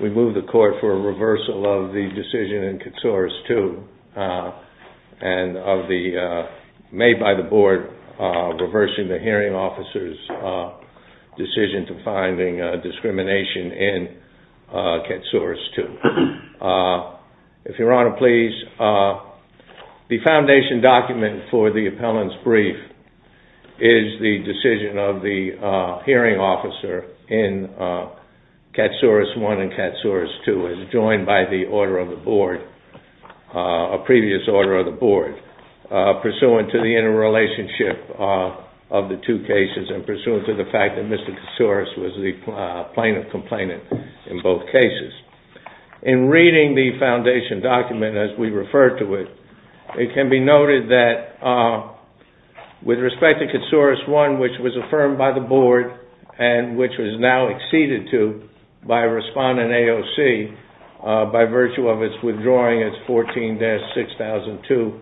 We move the court for a reversal of the decision in Katsouros 2, made by the board reversing the hearing officer's decision to finding discrimination in Katsouros 2. The foundation document for the appellant's brief is the decision of the hearing officer in Katsouros 1 and Katsouros 2, as joined by the order of the board, a previous order of the board, pursuant to the interrelationship of the two cases and pursuant to the fact that Mr. Katsouros was the plaintiff-complainant in both cases. In reading the foundation document as we refer to it, it can be noted that with respect to Katsouros 1, which was affirmed by the board and which was now acceded to by respondent AOC by virtue of its withdrawing its 14-6002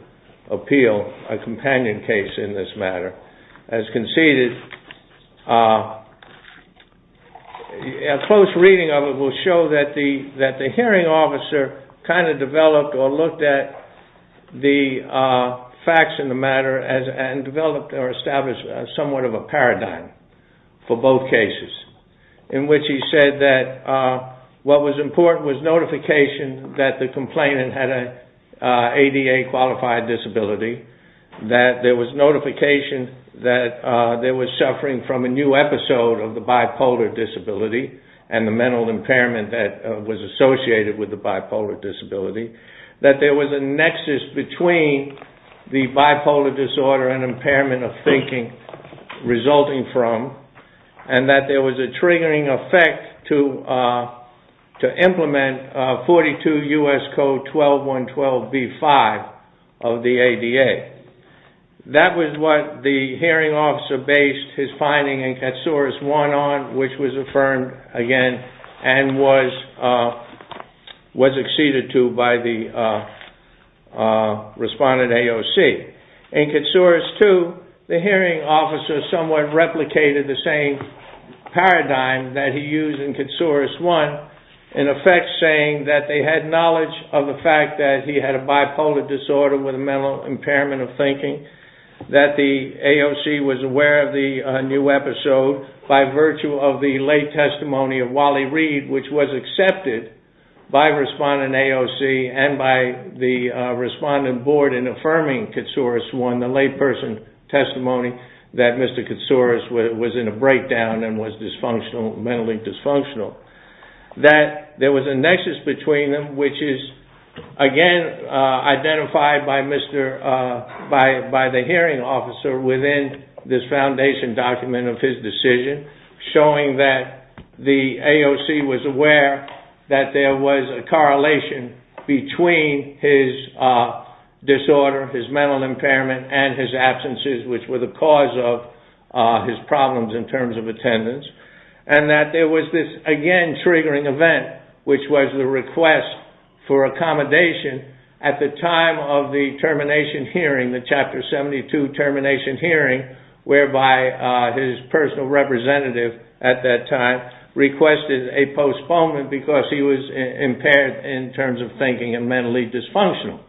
appeal, a companion case in this matter, as conceded, a close reading of it will show that the hearing officer kind of developed or looked at the facts in the matter and developed or established somewhat of a paradigm for both cases, in which he said that what was important was notification that the complainant had an ADA-qualified disability, that there was notification that they were suffering from a new episode of the bipolar disability and the mental impairment that was associated with the bipolar disability, that there was a nexus between the bipolar disorder and impairment of thinking resulting from, and that there was a triggering effect to implement 42 U.S. Code 12-112B-5 of the ADA. That was what the hearing officer based his finding in Katsouros 1 on, which was affirmed again and was acceded to by the respondent AOC. In Katsouros 2, the hearing officer somewhat replicated the same paradigm that he used in Katsouros 1, in effect saying that they had knowledge of the fact that he had a bipolar disorder with a mental impairment of thinking, that the AOC was aware of the new episode by virtue of the late testimony of Wally Reed, which was accepted by respondent AOC and by the respondent board in affirming Katsouros 1, the late person's testimony that Mr. Katsouros was in a breakdown and was mentally dysfunctional. There was a nexus between them, which is again identified by the hearing officer within this foundation document of his decision, showing that the AOC was aware that there was a correlation between his disorder, his mental impairment, and his absences, which were the cause of his problems in terms of attendance, and that there was this, again, triggering event, which was the request for accommodation at the time of the termination hearing, the Chapter 72 termination hearing, whereby his personal representative at that time requested a postponement because he was impaired in terms of thinking and mentally dysfunctional.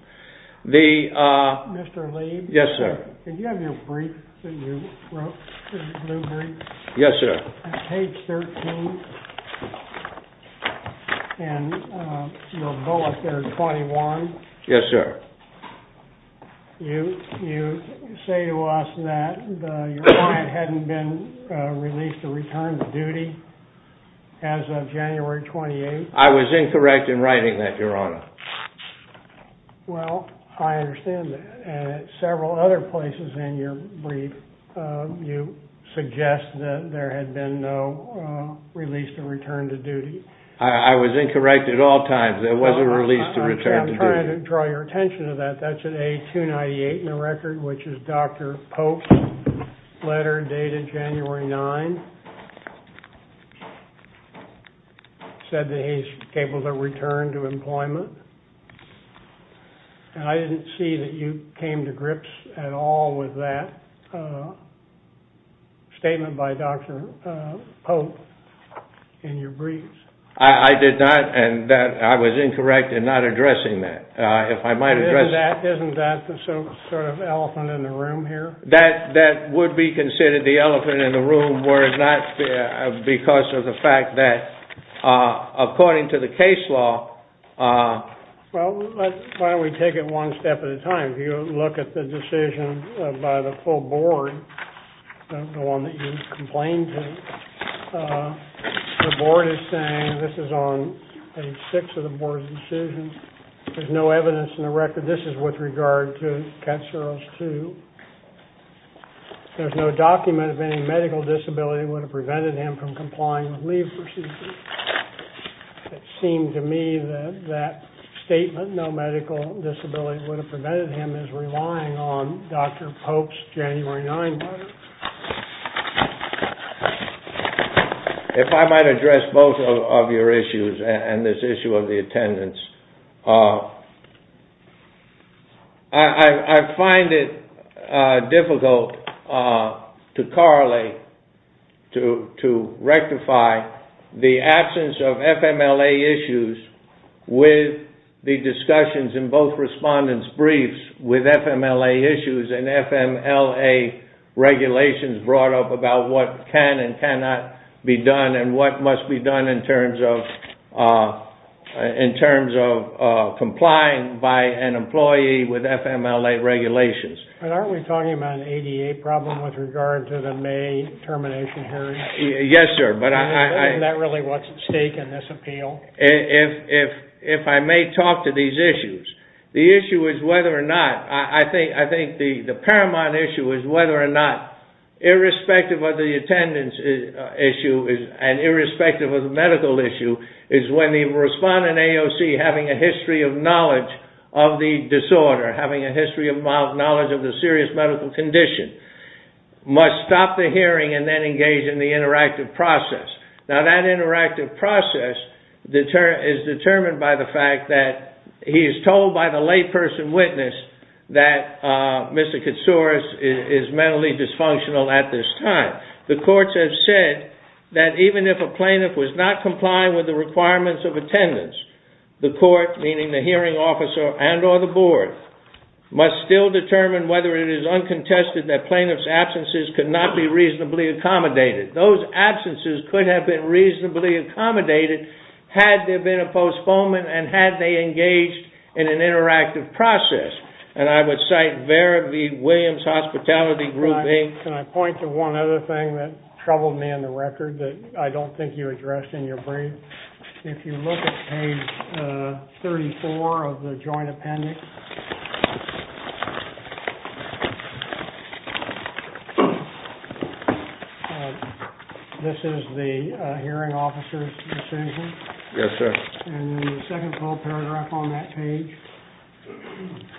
Mr. Leib? Yes, sir. Did you have your brief that you wrote, the blue brief? Yes, sir. On page 13 in your bullet there, 21? Yes, sir. You say to us that your client hadn't been released to return to duty as of January 28th? I was incorrect in writing that, Your Honor. Well, I understand that. At several other places in your brief, you suggest that there had been no release to return to duty. I was incorrect at all times. There was a release to return to duty. I'm trying to draw your attention to that. That's at A298 in your brief, which is Dr. Pope's letter dated January 9th, said that he's able to return to employment. And I didn't see that you came to grips at all with that statement by Dr. Pope in your briefs. I did not, and I was incorrect in not addressing that. If I might That would be considered the elephant in the room, whereas not because of the fact that according to the case law... Well, why don't we take it one step at a time. If you look at the decision by the full board, the one that you complained to, the board is saying this is on page 6 of the board's decision. There's no evidence in the record. This is with regard to Katsuro's 2. There's no document of any medical disability that would have prevented him from complying with leave procedures. It seemed to me that that statement, no medical disability would have prevented him from relying on Dr. Pope's January 9th letter. If I might address both of your issues and this issue of the attendance. I find it difficult to correlate, to rectify the absence of FMLA issues with the discussions in both respondents' briefs with FMLA issues and FMLA regulations brought up about what can and cannot be done and what must be done in terms of complying by an employee with FMLA regulations. But aren't we talking about an ADA problem with regard to the May termination hearing? Yes, sir, but I... Isn't that really what's at stake in this appeal? If I may talk to these issues, the issue is whether or not, I think the paramount issue is whether or not, irrespective of the attendance issue and irrespective of the medical issue, is when the respondent AOC having a history of knowledge of the disorder, having a history of knowledge of the serious medical condition, must stop the hearing and then engage in the interactive process. Now that interactive process is determined by the fact that he is told by the lay person witness that Mr. Katsouris is mentally dysfunctional at this time. The courts have said that even if a plaintiff was not complying with the requirements of attendance, the court, meaning the hearing officer and or the board, must still determine whether it is uncontested that plaintiff's absence could have been reasonably accommodated. Those absences could have been reasonably accommodated had there been a postponement and had they engaged in an interactive process. And I would cite Vera V. Williams Hospitality Group, Inc. Can I point to one other thing that troubled me in the record that I don't think you addressed in your brief? If you look at page 34 of the joint appendix... This is the hearing officer's decision? Yes, sir. And in the second full paragraph on that page,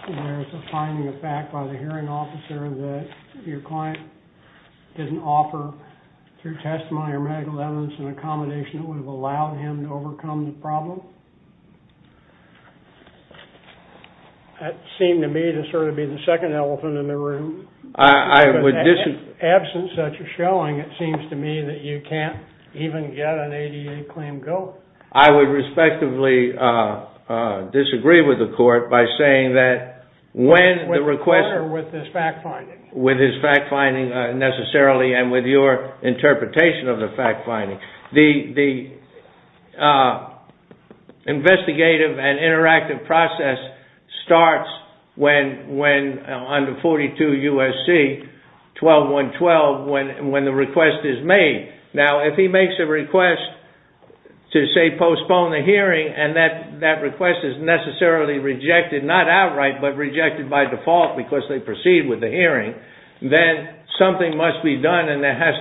there's a finding of fact by the hearing officer that your client didn't offer through testimony or medical evidence an accommodation that would have allowed him to overcome the problem? That seemed to me to sort of be the second elephant in the room. In the absence of such a showing, it seems to me that you can't even get an ADA claim going. I would respectively disagree with the court by saying that... With the court or with his fact finding? With his fact finding, necessarily, and with your interpretation of the fact finding. The investigative and interactive process starts under 42 U.S.C. 12.1.12 when the request is made. Now, if he makes a request to, say, postpone the hearing, and that request is necessarily rejected, not outright, but rejected by default because they proceed with the hearing, then something must be done and there has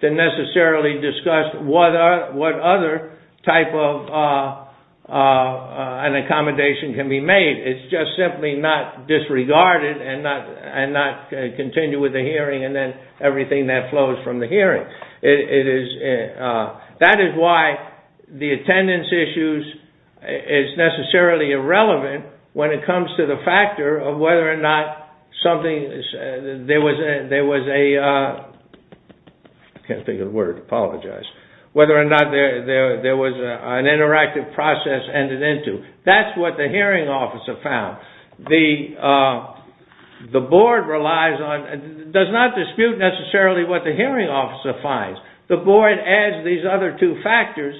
to necessarily be discussed what other type of an accommodation can be made. It's just simply not disregarded and not continue with the hearing and then everything that flows from the hearing. That is why the attendance issue is necessarily irrelevant when it comes to the factor of whether or not something, there was a... I can't think of the word, I apologize. Whether or not there was an interactive process ended into. That's what the hearing officer found. The board relies on, does not dispute necessarily what the hearing officer finds. The board adds these other two factors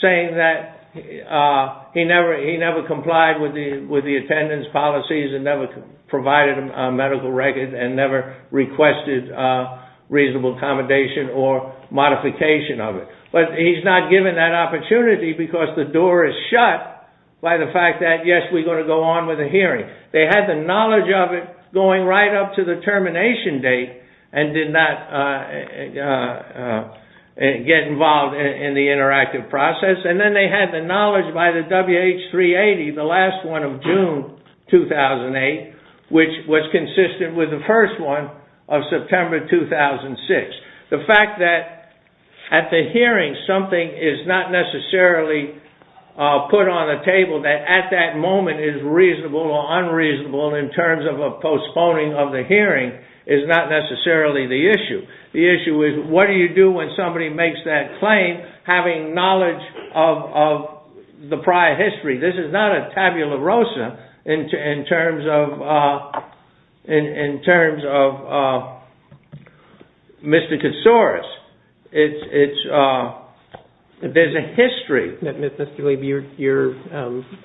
saying that he never complied with the attendance policies and never provided a medical record and never requested reasonable accommodation or modification of it. But he's not given that opportunity because the door is shut by the fact that, yes, we're going to go on with the hearing. They had the knowledge of it going right up to the termination date and did not get involved in the interactive process. Then they had the knowledge by the WH-380, the last one of June 2008, which was consistent with the first one of September 2006. The fact that at the hearing something is not necessarily put on the table that at that moment is reasonable or unreasonable in terms of a postponing of the hearing is not necessarily the issue. The issue is what do you do when somebody makes that claim having knowledge of the prior history? This is not a tabula rosa in terms of mysticosaurus. There's a history. Mr. Lieb, you're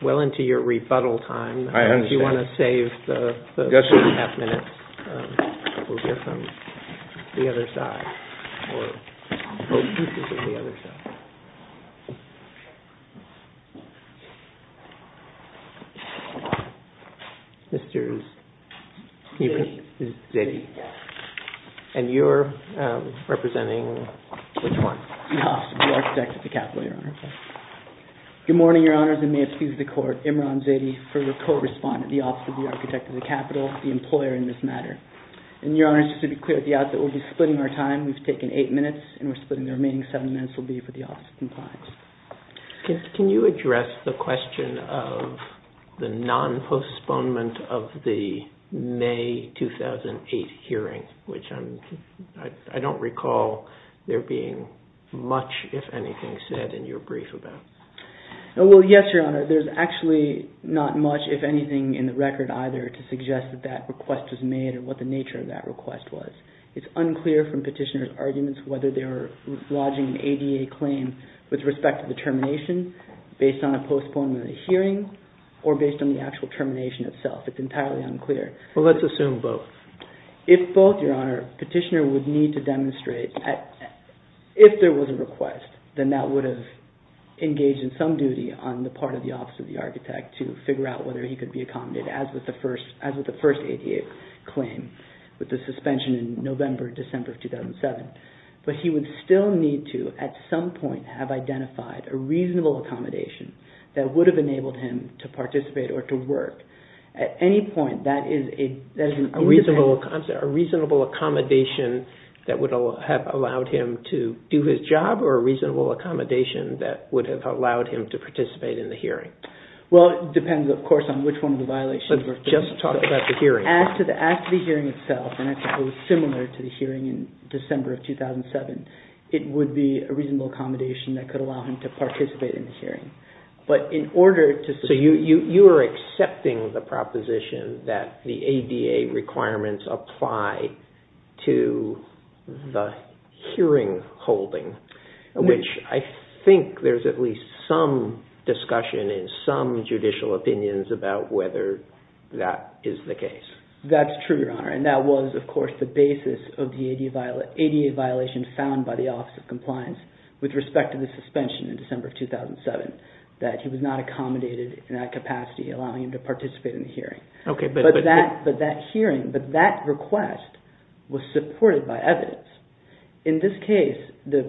well into your rebuttal time. Do you want to save the half minute? We'll go from the other side. And you're representing which one? The Office of the Architect of the Capitol, Your Honor. Good morning, Your Honors, and may it please the Court, Imran Zaidi for your co-respondent, the Office of the Architect of the Capitol, the employer in this matter. And Your Honors, just to be clear at the outset, we'll be splitting our time. We've taken eight minutes and we're splitting the remaining seven minutes will be for the Office of Compliance. Can you address the question of the non-postponement of the May 2008 hearing, which I don't recall there being much, if anything, said in your brief about? Well, yes, Your Honor. There's actually not much, if anything, in the record either to suggest that that request was made and what the nature of that request was. It's unclear from petitioner's arguments whether they were lodging an ADA claim with respect to the termination based on a postponement of the hearing or based on the actual termination itself. It's entirely unclear. Well, let's assume both. If both, Your Honor, petitioner would need to demonstrate, if there was a request, then that would have engaged in some duty on the part of the Office of the Architect to figure out whether he could be accommodated as with the first ADA claim with the suspension in November, December of 2007. But he would still need to, at some point, have identified a reasonable accommodation that would have enabled him to participate or to work. At any point, that is an independent... A reasonable accommodation that would have allowed him to do his job or a reasonable accommodation that would have allowed him to participate in the hearing? Well, it depends, of course, on which one of the violations... But just talk about the hearing. As to the hearing itself, and I suppose similar to the hearing in December of 2007, it would be a reasonable accommodation that could allow him to participate in the hearing. But in order to... So you are accepting the proposition that the ADA requirements apply to the hearing holding, which I think there's at least some discussion in some judicial opinions about whether that is the case. That's true, Your Honor, and that was, of course, the basis of the ADA violation found by the Office of Compliance with respect to the suspension in December of 2007, that he was not accommodated in that capacity allowing him to participate in the hearing. Okay, but... But that hearing, but that request was supported by evidence. In this case, the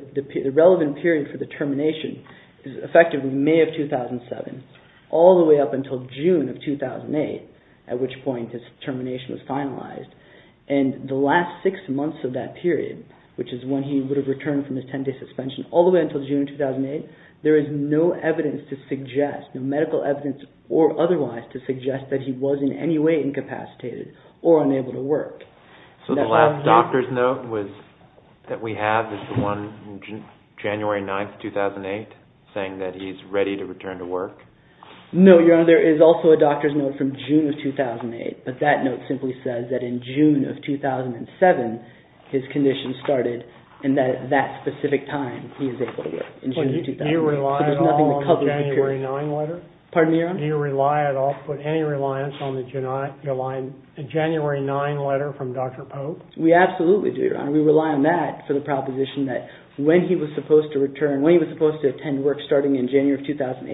relevant period for the termination is effectively May of 2007 all the way up until June of 2008, at which point his termination was finalized. And the last six months of that period, which is when he would have returned from his 10-day suspension all the way until June of 2008, there is no evidence to suggest, no medical evidence or otherwise, to suggest that he was in any way incapacitated or unable to work. So the last doctor's note that we have is the one January 9th, 2008, saying that he's ready to return to work? No, Your Honor, there is also a doctor's note from June of 2008, but that note simply says that in June of 2007 his condition started and that at that specific time he was able to work, in June of 2008. Do you rely at all on the January 9th letter? Pardon me, Your Honor? Do you rely at all, put any reliance on the January 9th letter from Dr. Pope? We absolutely do, Your Honor. We rely on that for the proposition that when he was supposed to return, when he was supposed to attend work starting in January of 2008,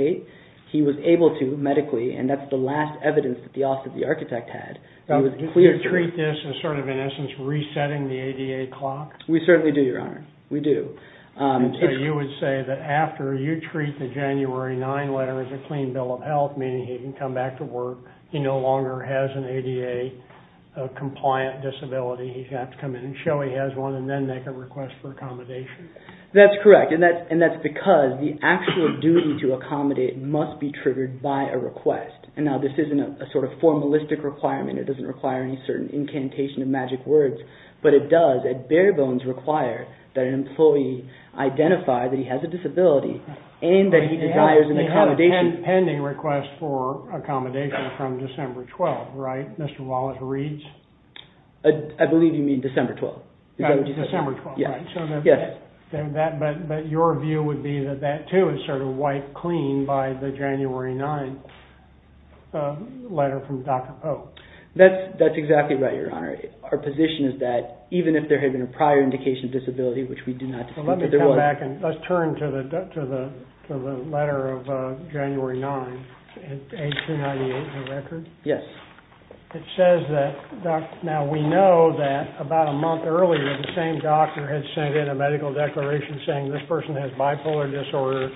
he was able to medically, and that's the last evidence that the architect had. Do you treat this as sort of in essence resetting the ADA clock? We certainly do, Your Honor, we do. So you would say that after you treat the January 9th letter as a clean bill of health, meaning he can come back to work, he no longer has an ADA-compliant disability, he has to come in and show he has one and then make a request for accommodation? That's correct, and that's because the actual duty to accommodate must be triggered by a request, and now this isn't a sort of formalistic requirement, it doesn't require any certain incantation of magic words, but it does at bare bones require that an employee identify that he has a disability and that he desires an accommodation. He had a pending request for accommodation from December 12th, right, Mr. Wallace reads? I believe you mean December 12th. December 12th, right. Yes. But your view would be that that too is sort of wiped clean by the January 9th letter from Dr. Pope? That's exactly right, Your Honor. Our position is that even if there had been a prior indication of disability, which we do not dispute that there was. Let me come back and let's turn to the letter of January 9th, age 298 in the record. Yes. It says that, now we know that about a month earlier, the same doctor had sent in a medical declaration saying this person has bipolar disorder,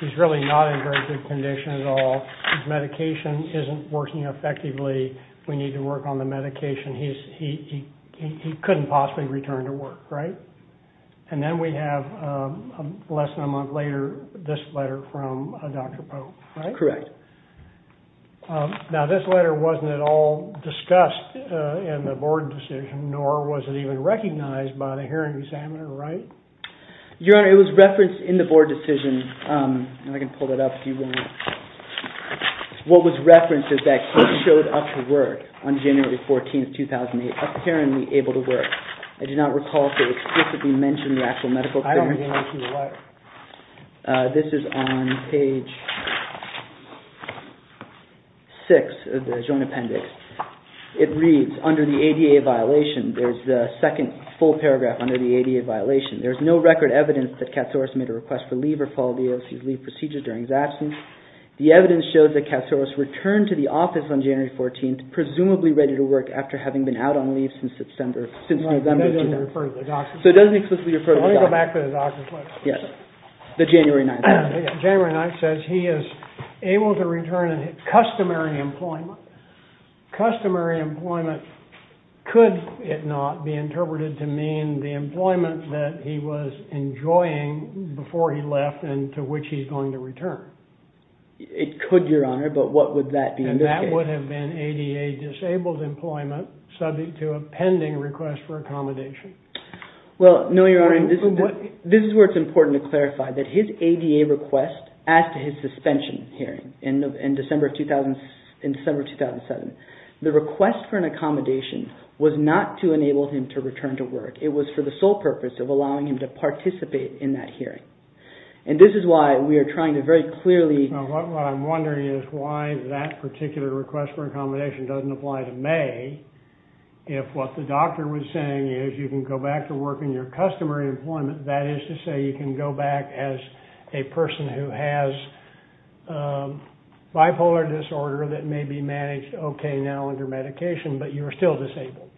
he's really not in very good condition at all, his medication isn't working effectively, we need to work on the medication, he couldn't possibly return to work, right? And then we have less than a month later this letter from Dr. Pope, right? Correct. Now this letter wasn't at all discussed in the board decision, nor was it even recognized by the hearing examiner, right? Your Honor, it was referenced in the board decision, and I can pull that up if you want. What was referenced is that he showed up to work on January 14th, 2008, apparently able to work. I do not recall if it explicitly mentioned the actual medical declaration. I don't believe it's in the letter. This is on page 6 of the joint appendix. It reads, under the ADA violation, there's the second full paragraph under the ADA violation, there's no record evidence that Katsouris made a request for leave or followed the OLC's leave procedures during his absence. The evidence showed that Katsouris returned to the office on January 14th, presumably ready to work after having been out on leave since November 2008. No, it doesn't even refer to the doctor. So it doesn't explicitly refer to the doctor. Let's go back to the doctor's letter. Yes, the January 9th letter. January 9th says he is able to return to customary employment. Customary employment, could it not be interpreted to mean the employment that he was enjoying before he left and to which he's going to return? It could, Your Honor, but what would that be in this case? And that would have been ADA-disabled employment, subject to a pending request for accommodation. Well, no, Your Honor. This is where it's important to clarify that his ADA request, as to his suspension hearing in December 2007, the request for an accommodation was not to enable him to return to work. It was for the sole purpose of allowing him to participate in that hearing. And this is why we are trying to very clearly— What I'm wondering is why that particular request for accommodation doesn't apply to May if what the doctor was saying is you can go back to work in your customary employment. That is to say you can go back as a person who has bipolar disorder that may be managed okay now under medication, but you are still disabled.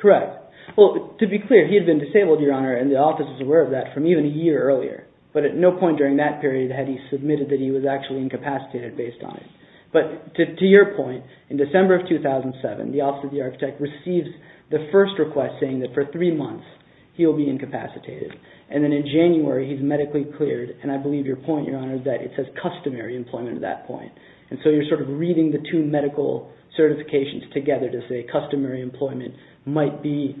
Correct. Well, to be clear, he had been disabled, Your Honor, and the office was aware of that from even a year earlier. But at no point during that period had he submitted that he was actually incapacitated based on it. But to your point, in December of 2007, the Office of the Architect receives the first request saying that for three months he will be incapacitated. And then in January, he's medically cleared. And I believe your point, Your Honor, is that it says customary employment at that point. And so you're sort of reading the two medical certifications together to say customary employment might be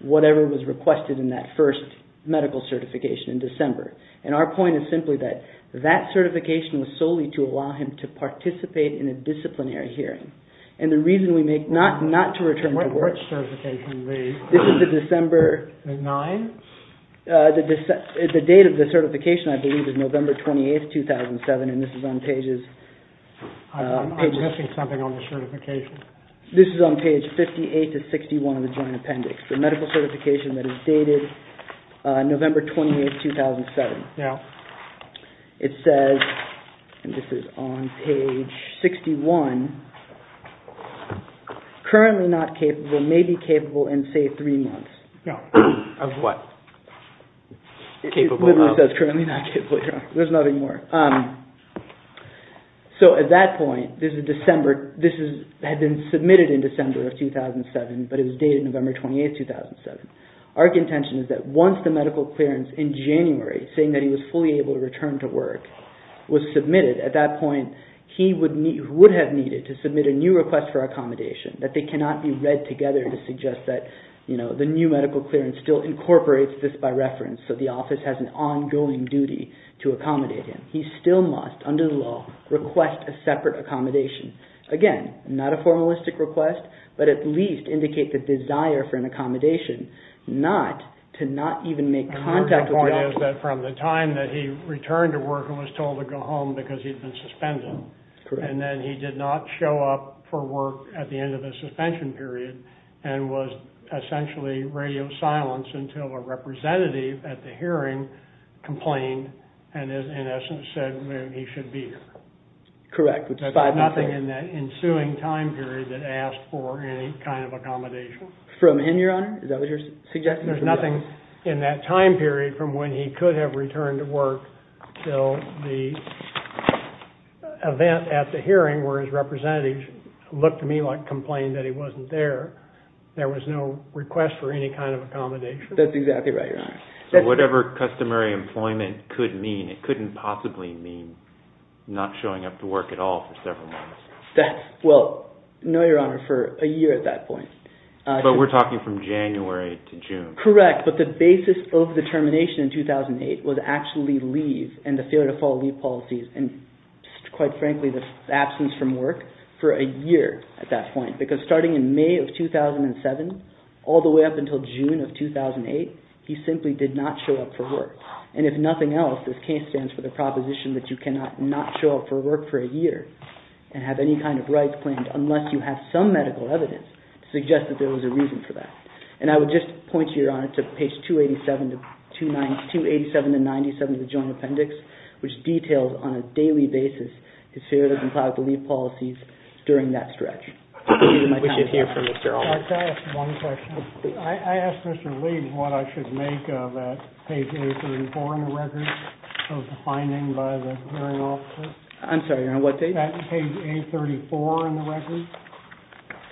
whatever was requested in that first medical certification in December. And our point is simply that that certification was solely to allow him to participate in a disciplinary hearing. And the reason we make not to return to work... Which certification, Lee? This is the December... The 9th? The date of the certification, I believe, is November 28, 2007, and this is on pages... I'm missing something on the certification. This is on page 58 to 61 of the Joint Appendix. The medical certification that is dated November 28, 2007. It says, and this is on page 61, currently not capable, may be capable in, say, three months. Of what? It literally says currently not capable. There's nothing more. So at that point, this is December. This had been submitted in December of 2007, but it was dated November 28, 2007. Our intention is that once the medical clearance in January, saying that he was fully able to return to work, was submitted, at that point he would have needed to submit a new request for accommodation, that they cannot be read together to suggest that, you know, the new medical clearance still incorporates this by reference, so the office has an ongoing duty to accommodate him. He still must, under the law, request a separate accommodation. Again, not a formalistic request, but at least indicate the desire for an accommodation, not to not even make contact with the office. Your point is that from the time that he returned to work and was told to go home because he'd been suspended, and then he did not show up for work at the end of the suspension period and was essentially radio silenced until a representative at the hearing complained and, in essence, said he should be here? Correct. There's nothing in that ensuing time period that asked for any kind of accommodation? From him, Your Honor? Is that what you're suggesting? There's nothing in that time period from when he could have returned to work till the event at the hearing where his representative looked to me and complained that he wasn't there. There was no request for any kind of accommodation. That's exactly right, Your Honor. Whatever customary employment could mean, it couldn't possibly mean not showing up to work at all for several months. No, Your Honor, for a year at that point. But we're talking from January to June. Correct, but the basis of the termination in 2008 was actually leave and the failure to follow leave policies and, quite frankly, the absence from work for a year at that point because starting in May of 2007 all the way up until June of 2008, he simply did not show up for work. And if nothing else, this case stands for the proposition that you cannot not show up for work for a year and have any kind of rights claimed unless you have some medical evidence to suggest that there was a reason for that. And I would just point you, Your Honor, to page 287 to 97 of the Joint Appendix, which details on a daily basis his failure to comply with the leave policies during that stretch. We should hear from Mr. Allman. Can I ask one question? I asked Mr. Leib what I should make of page 834 in the record of the finding by the hearing officer. I'm sorry, Your Honor, what page? Page 834 in the record.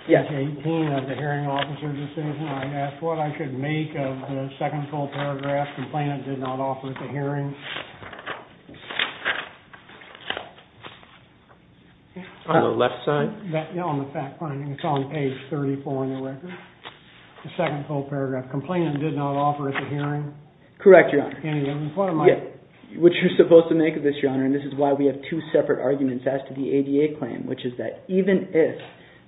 Yes. Page 18 of the hearing officer's decision. I asked what I should make of the second full paragraph, complainant did not offer at the hearing. On the left side? No, on the fact finding. It's on page 34 in the record. The second full paragraph, complainant did not offer at the hearing. Correct, Your Honor. Any evidence? Yes. What you're supposed to make of this, Your Honor, and this is why we have two separate arguments as to the ADA claim, which is that even if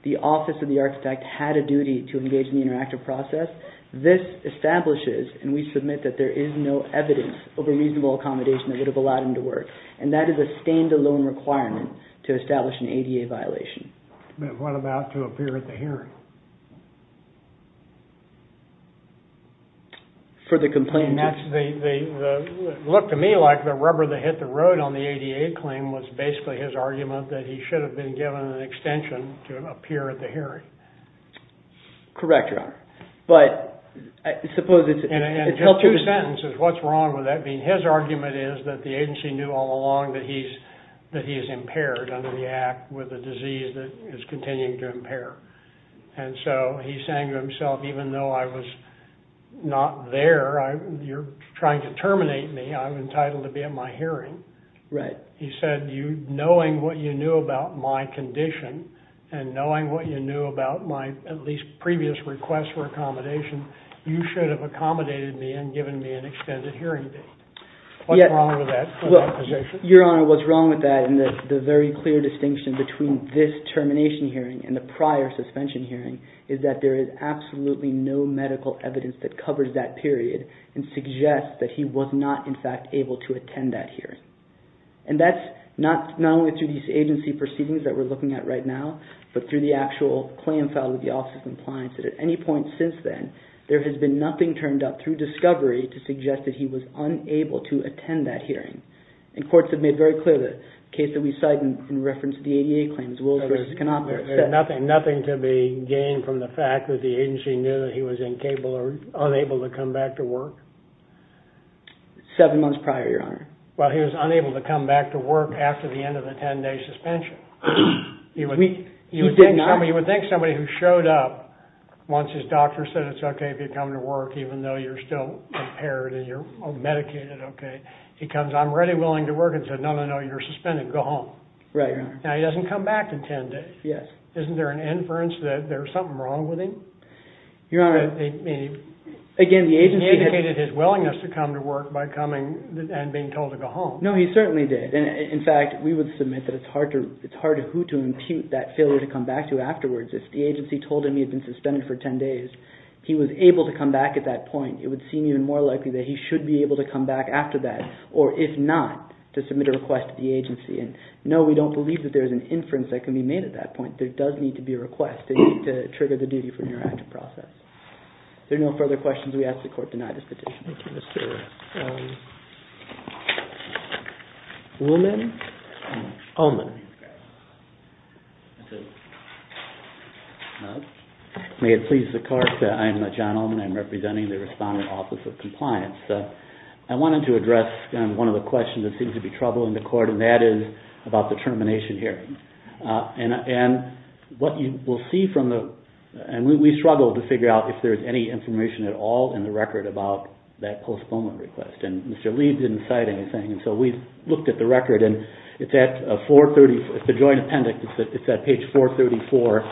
the office of the architect had a duty to engage in the interactive process, this establishes, and we submit that there is no evidence of a reasonable accommodation that would have allowed him to work, and that is a standalone requirement to establish an ADA violation. What about to appear at the hearing? For the complainant? It looked to me like the rubber that hit the road on the ADA claim was basically his argument that he should have been given an extension to appear at the hearing. Correct, Your Honor. And just two sentences, what's wrong with that? His argument is that the agency knew all along that he is impaired under the act with a disease that is continuing to impair, and so he's saying to himself, even though I was not there, you're trying to terminate me, I'm entitled to be at my hearing. Right. He said, knowing what you knew about my condition and knowing what you knew about my at least previous request for accommodation, you should have accommodated me and given me an extended hearing date. What's wrong with that? Your Honor, what's wrong with that, and the very clear distinction between this termination hearing and the prior suspension hearing, is that there is absolutely no medical evidence that covers that period and suggests that he was not, in fact, able to attend that hearing. And that's not only through these agency proceedings that we're looking at right now, but through the actual claim filed with the Office of Compliance that at any point since then, there has been nothing turned up through discovery to suggest that he was unable to attend that hearing. And courts have made very clear the case that we cite in reference to the ADA claims, Wills versus Canopolis. Nothing to be gained from the fact that the agency knew that he was incapable or unable to come back to work? Seven months prior, Your Honor. Well, he was unable to come back to work after the end of the 10-day suspension. He did not? You would think somebody who showed up once his doctor said it's okay if you come to work even though you're still impaired and you're medicated, okay, he comes, I'm ready, willing to work, and said, no, no, no, you're suspended, go home. Now, he doesn't come back in 10 days. Isn't there an inference that there's something wrong with him? Your Honor, again, the agency... He indicated his willingness to come to work by coming and being told to go home. No, he certainly did. In fact, we would submit that it's hard to who to impute that failure to come back to afterwards. If the agency told him he had been suspended for 10 days, he was able to come back at that point, it would seem even more likely that he should be able to come back after that or, if not, to submit a request to the agency. And no, we don't believe that there's an inference that can be made at that point. There does need to be a request to trigger the duty for an interactive process. If there are no further questions, we ask that the Court deny this petition. Thank you, Mr. Willman. Olman. May it please the Court, I'm John Olman. I'm representing the Respondent Office of Compliance. I wanted to address one of the questions that seems to be troubling the Court, and that is about the termination hearing. And what you will see from the... And we struggled to figure out if there's any information at all in the record about that postponement request. And Mr. Lee didn't cite anything, and so we looked at the record, and it's at 430. It's a joint appendix. It's at page 434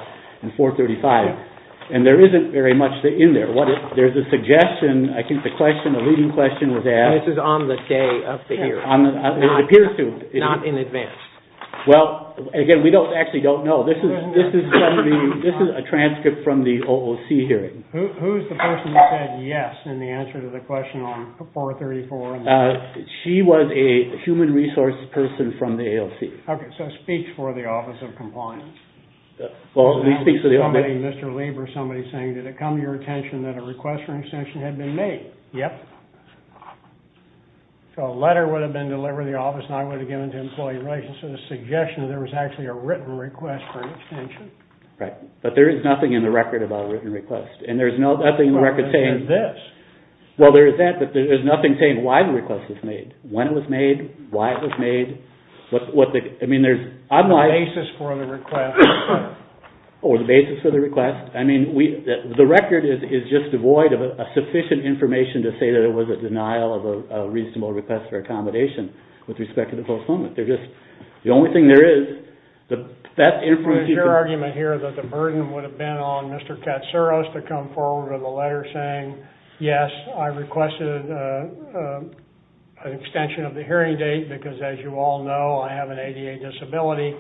and 435. And there isn't very much in there. There's a suggestion. I think the question, the leading question was asked. This is on the day of the hearing. It appears to. Not in advance. Well, again, we actually don't know. This is a transcript from the OOC hearing. Who's the person who said yes in the answer to the question on 434? She was a human resource person from the AOC. Okay. So a speech for the Office of Compliance. Well, we speak for the office. Somebody, Mr. Lieber, somebody saying, did it come to your attention that a request for an extension had been made? Yep. So a letter would have been delivered to the office, and I would have given it to employee relations. So the suggestion that there was actually a written request for an extension. Right. But there is nothing in the record about a written request. And there's nothing in the record saying... Well, there's this. Well, there is that, but there's nothing saying why the request was made, when it was made, why it was made. I mean, there's... The basis for the request. Or the basis for the request. I mean, the record is just devoid of sufficient information to say that it was a denial of a reasonable request for accommodation with respect to the postponement. The only thing there is, that information... There's your argument here that the burden would have been on Mr. Katsuros to come forward with a letter saying, yes, I requested an extension of the hearing date, because as you all know, I have an ADA disability,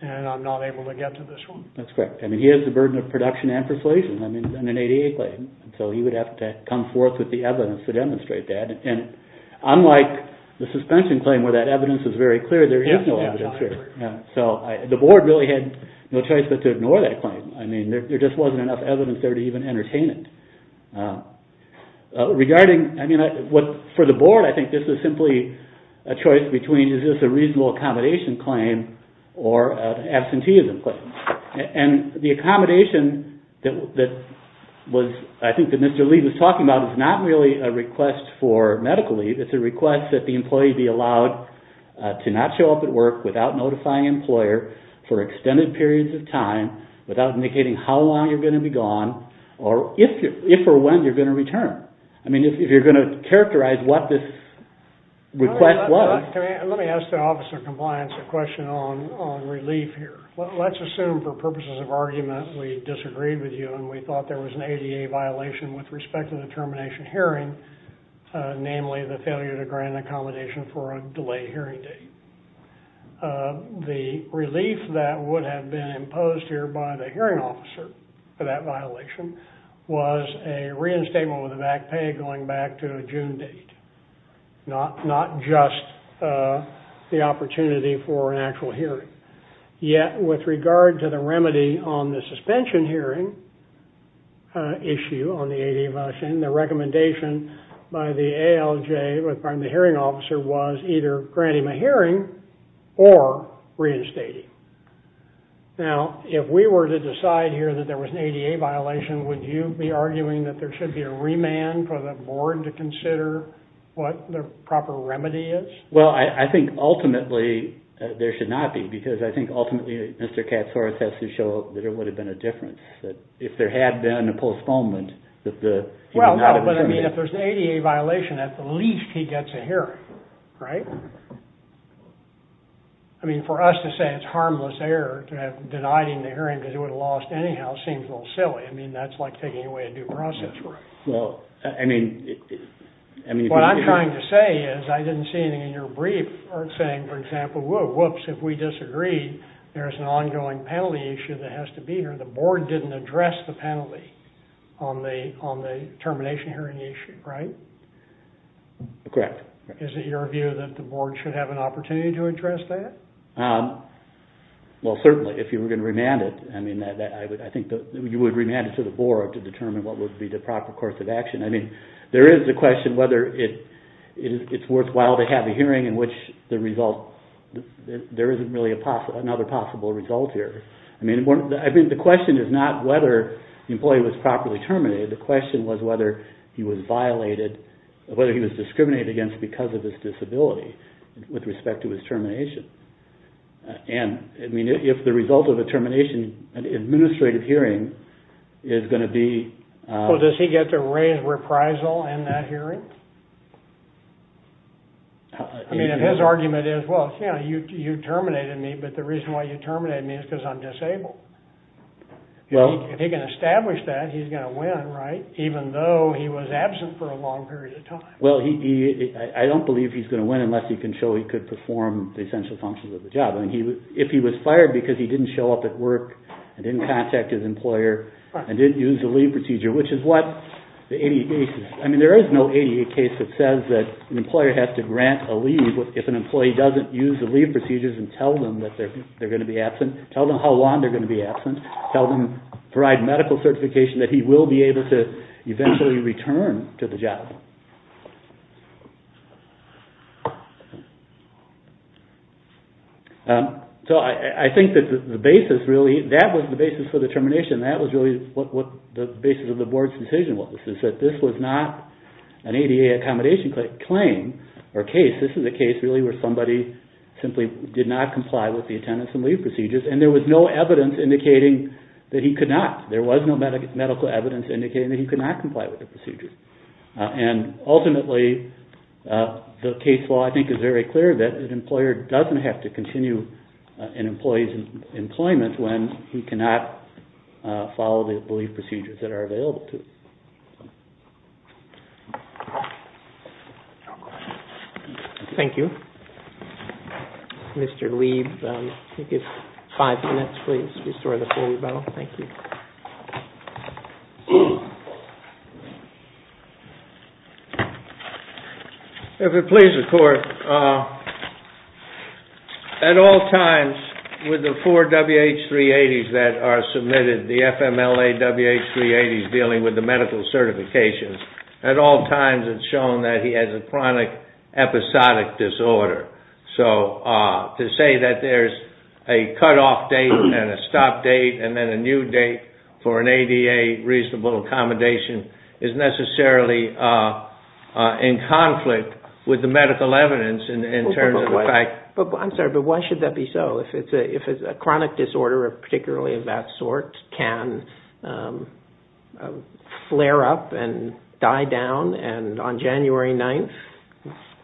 and I'm not able to get to this one. That's correct. I mean, he has the burden of production and persuasion on an ADA claim. So he would have to come forth with the evidence to demonstrate that. And unlike the suspension claim, where that evidence is very clear, there is no evidence there. Yeah. So the board really had no choice but to ignore that claim. I mean, there just wasn't enough evidence there to even entertain it. For the board, I think this is simply a choice between, is this a reasonable accommodation claim or an absenteeism claim? And the accommodation that I think that Mr. Lee was talking about is not really a request for medical leave. It's a request that the employee be allowed to not show up at work without notifying an employer for extended periods of time without indicating how long you're going to be gone, or if or when you're going to return. I mean, if you're going to characterize what this request was. Let me ask the Office of Compliance a question on relief here. Let's assume for purposes of argument we disagreed with you and we thought there was an ADA violation with respect to the termination hearing, namely the failure to grant an accommodation for a delayed hearing date. The relief that would have been imposed here by the hearing officer for that violation was a reinstatement with a back pay going back to a June date, not just the opportunity for an actual hearing. Yet with regard to the remedy on the suspension hearing issue on the ADA violation, the recommendation by the ALJ, the hearing officer, was either granting a hearing or reinstating. Now, if we were to decide here that there was an ADA violation, would you be arguing that there should be a remand for the board to consider what the proper remedy is? Well, I think ultimately there should not be, because I think ultimately Mr. Katsouris has to show that there would have been a difference. If there had been a postponement, that the... Well, but I mean if there's an ADA violation, at the least he gets a hearing, right? I mean, for us to say it's harmless error to have denied him the hearing because he would have lost anyhow seems a little silly. I mean, that's like taking away a due process. That's right. Well, I mean... What I'm trying to say is I didn't see anything in your brief saying, for example, whoa, whoops, if we disagree, there's an ongoing penalty issue that has to be here. The board didn't address the penalty on the termination hearing issue, right? Correct. Is it your view that the board should have an opportunity to address that? Well, certainly. If you were going to remand it, I think you would remand it to the board to determine what would be the proper course of action. I mean, there is the question whether it's worthwhile to have a hearing in which there isn't really another possible result here. I mean, the question is not whether the employee was properly terminated. The question was whether he was violated, whether he was discriminated against because of his disability with respect to his termination. And, I mean, if the result of a termination, an administrative hearing, is going to be... Well, does he get to raise reprisal in that hearing? I mean, if his argument is, well, you know, you terminated me, but the reason why you terminated me is because I'm disabled. If he can establish that, he's going to win, right? Even though he was absent for a long period of time. Well, I don't believe he's going to win unless he can show he could perform the essential functions of the job. I mean, if he was fired because he didn't show up at work and didn't contact his employer and didn't use the leave procedure, which is what the 88 cases... I mean, there is no 88 case that says that an employer has to grant a leave if an employee doesn't use the leave procedures and tell them that they're going to be absent, tell them how long they're going to be absent, tell them to provide medical certification that he will be able to eventually return to the job. So I think that the basis really... That was the basis for the termination. That was really what the basis of the board's decision was, is that this was not an ADA accommodation claim or case. This is a case really where somebody simply did not comply with the attendance and leave procedures, and there was no evidence indicating that he could not. There was no medical evidence indicating that he could not comply with the procedures. And ultimately, the case law, I think, is very clear that an employer doesn't have to continue an employee's employment when he cannot follow the leave procedures that are available to him. Thank you. Mr. Lieb, I think it's five minutes. Please restore the floor, Mr. Bell. Thank you. If it pleases the Court, at all times with the four WH-380s that are submitted, the FMLA WH-380s dealing with the medical certifications, at all times it's shown that he has a chronic episodic disorder. So to say that there's a cutoff date and a stop date and then a new date for an ADA reasonable accommodation is necessarily in conflict with the medical evidence in terms of the fact... I'm sorry, but why should that be so? If a chronic disorder, particularly of that sort, can flare up and die down, and on January 9th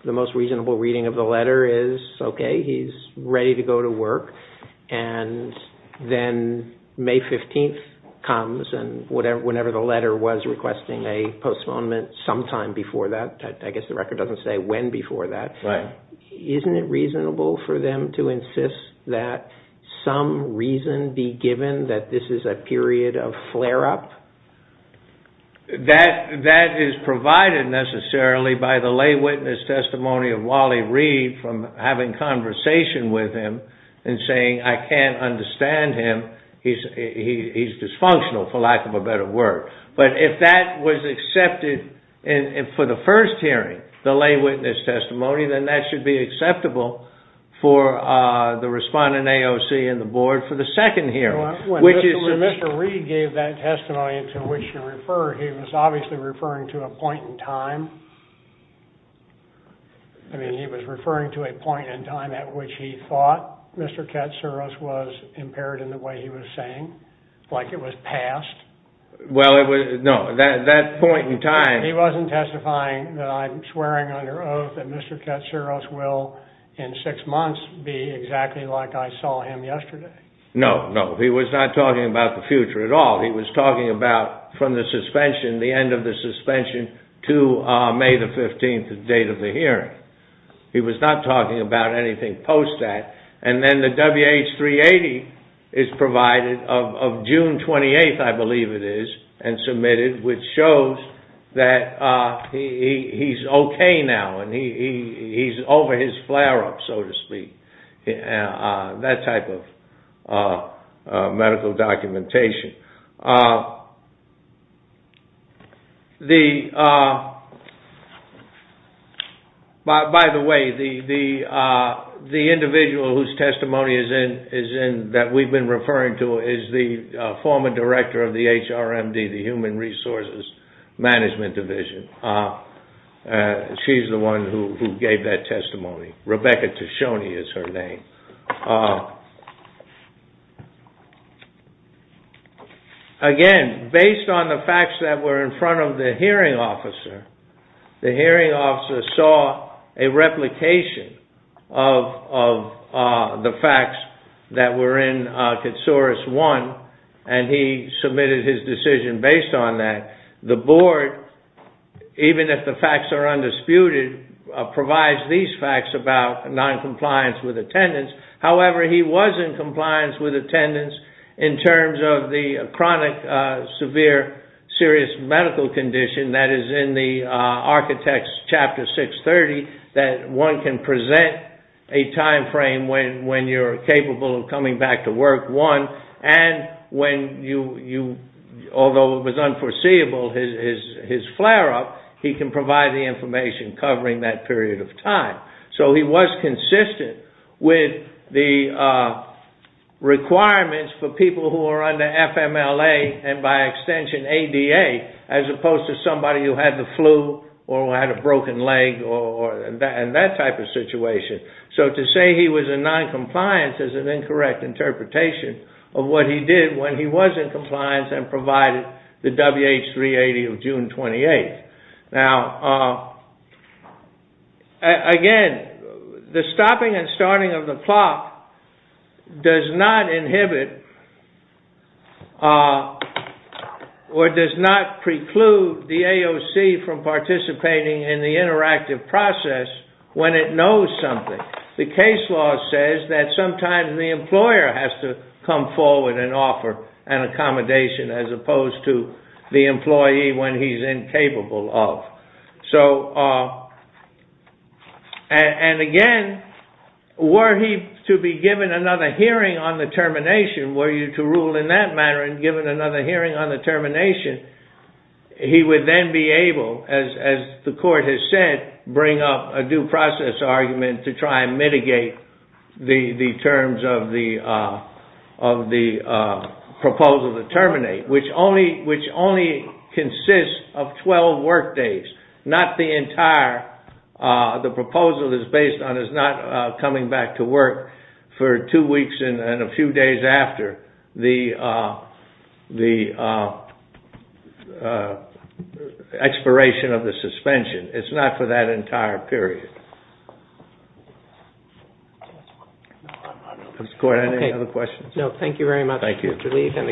the most reasonable reading of the letter is, okay, he's ready to go to work, and then May 15th comes, and whenever the letter was requesting a postponement sometime before that, I guess the record doesn't say when before that, isn't it reasonable for them to insist that some reason be given that this is a period of flare-up? That is provided necessarily by the lay witness testimony of Wally Reed from having conversation with him and saying, I can't understand him, he's dysfunctional, for lack of a better word. But if that was accepted for the first hearing, the lay witness testimony, then that should be acceptable for the respondent AOC and the Board for the second hearing, which is... When Mr. Reed gave that testimony to which you referred, he was obviously referring to a point in time. I mean, he was referring to a point in time at which he thought Mr. Katsouros was impaired in the way he was saying, like it was past. Well, no, that point in time... He wasn't testifying that I'm swearing under oath that Mr. Katsouros will, in six months, be exactly like I saw him yesterday. No, no, he was not talking about the future at all. He was talking about from the suspension, the end of the suspension, to May the 15th, the date of the hearing. He was not talking about anything post that. And then the WH-380 is provided of June 28th, I believe it is, and submitted, which shows that he's okay now and he's over his flare-up, so to speak. That type of medical documentation. By the way, the individual whose testimony is in, that we've been referring to, is the former director of the HRMD, the Human Resources Management Division. She's the one who gave that testimony. Rebecca Tishoni is her name. Again, based on the facts that were in front of the hearing officer, the hearing officer saw a replication of the facts that were in Katsouros 1, and he submitted his decision based on that. The board, even if the facts are undisputed, provides these facts about non-compliance with attendance. However, he was in compliance with attendance in terms of the chronic, severe, serious medical condition that is in the Architects Chapter 630, that one can present a timeframe when you're capable of coming back to work, and although it was unforeseeable, his flare-up, he can provide the information covering that period of time. So he was consistent with the requirements for people who are under FMLA and, by extension, ADA, as opposed to somebody who had the flu or had a broken leg and that type of situation. So to say he was in non-compliance is an incorrect interpretation of what he did when he was in compliance and provided the WH 380 of June 28. Now, again, the stopping and starting of the clock does not inhibit or does not preclude the AOC from participating in the interactive process when it knows something. The case law says that sometimes the employer has to come forward and offer an accommodation as opposed to the employee when he's incapable of. So, and again, were he to be given another hearing on the termination, were you to rule in that manner and given another hearing on the termination, he would then be able, as the court has said, bring up a due process argument to try and mitigate the terms of the proposal to terminate, which only consists of 12 work days, not the entire, the proposal is based on his not coming back to work for two weeks and a few days after the expiration of the suspension. It's not for that entire period. Mr. Court, any other questions? No, thank you very much, Mr. Lee, and the case is submitted.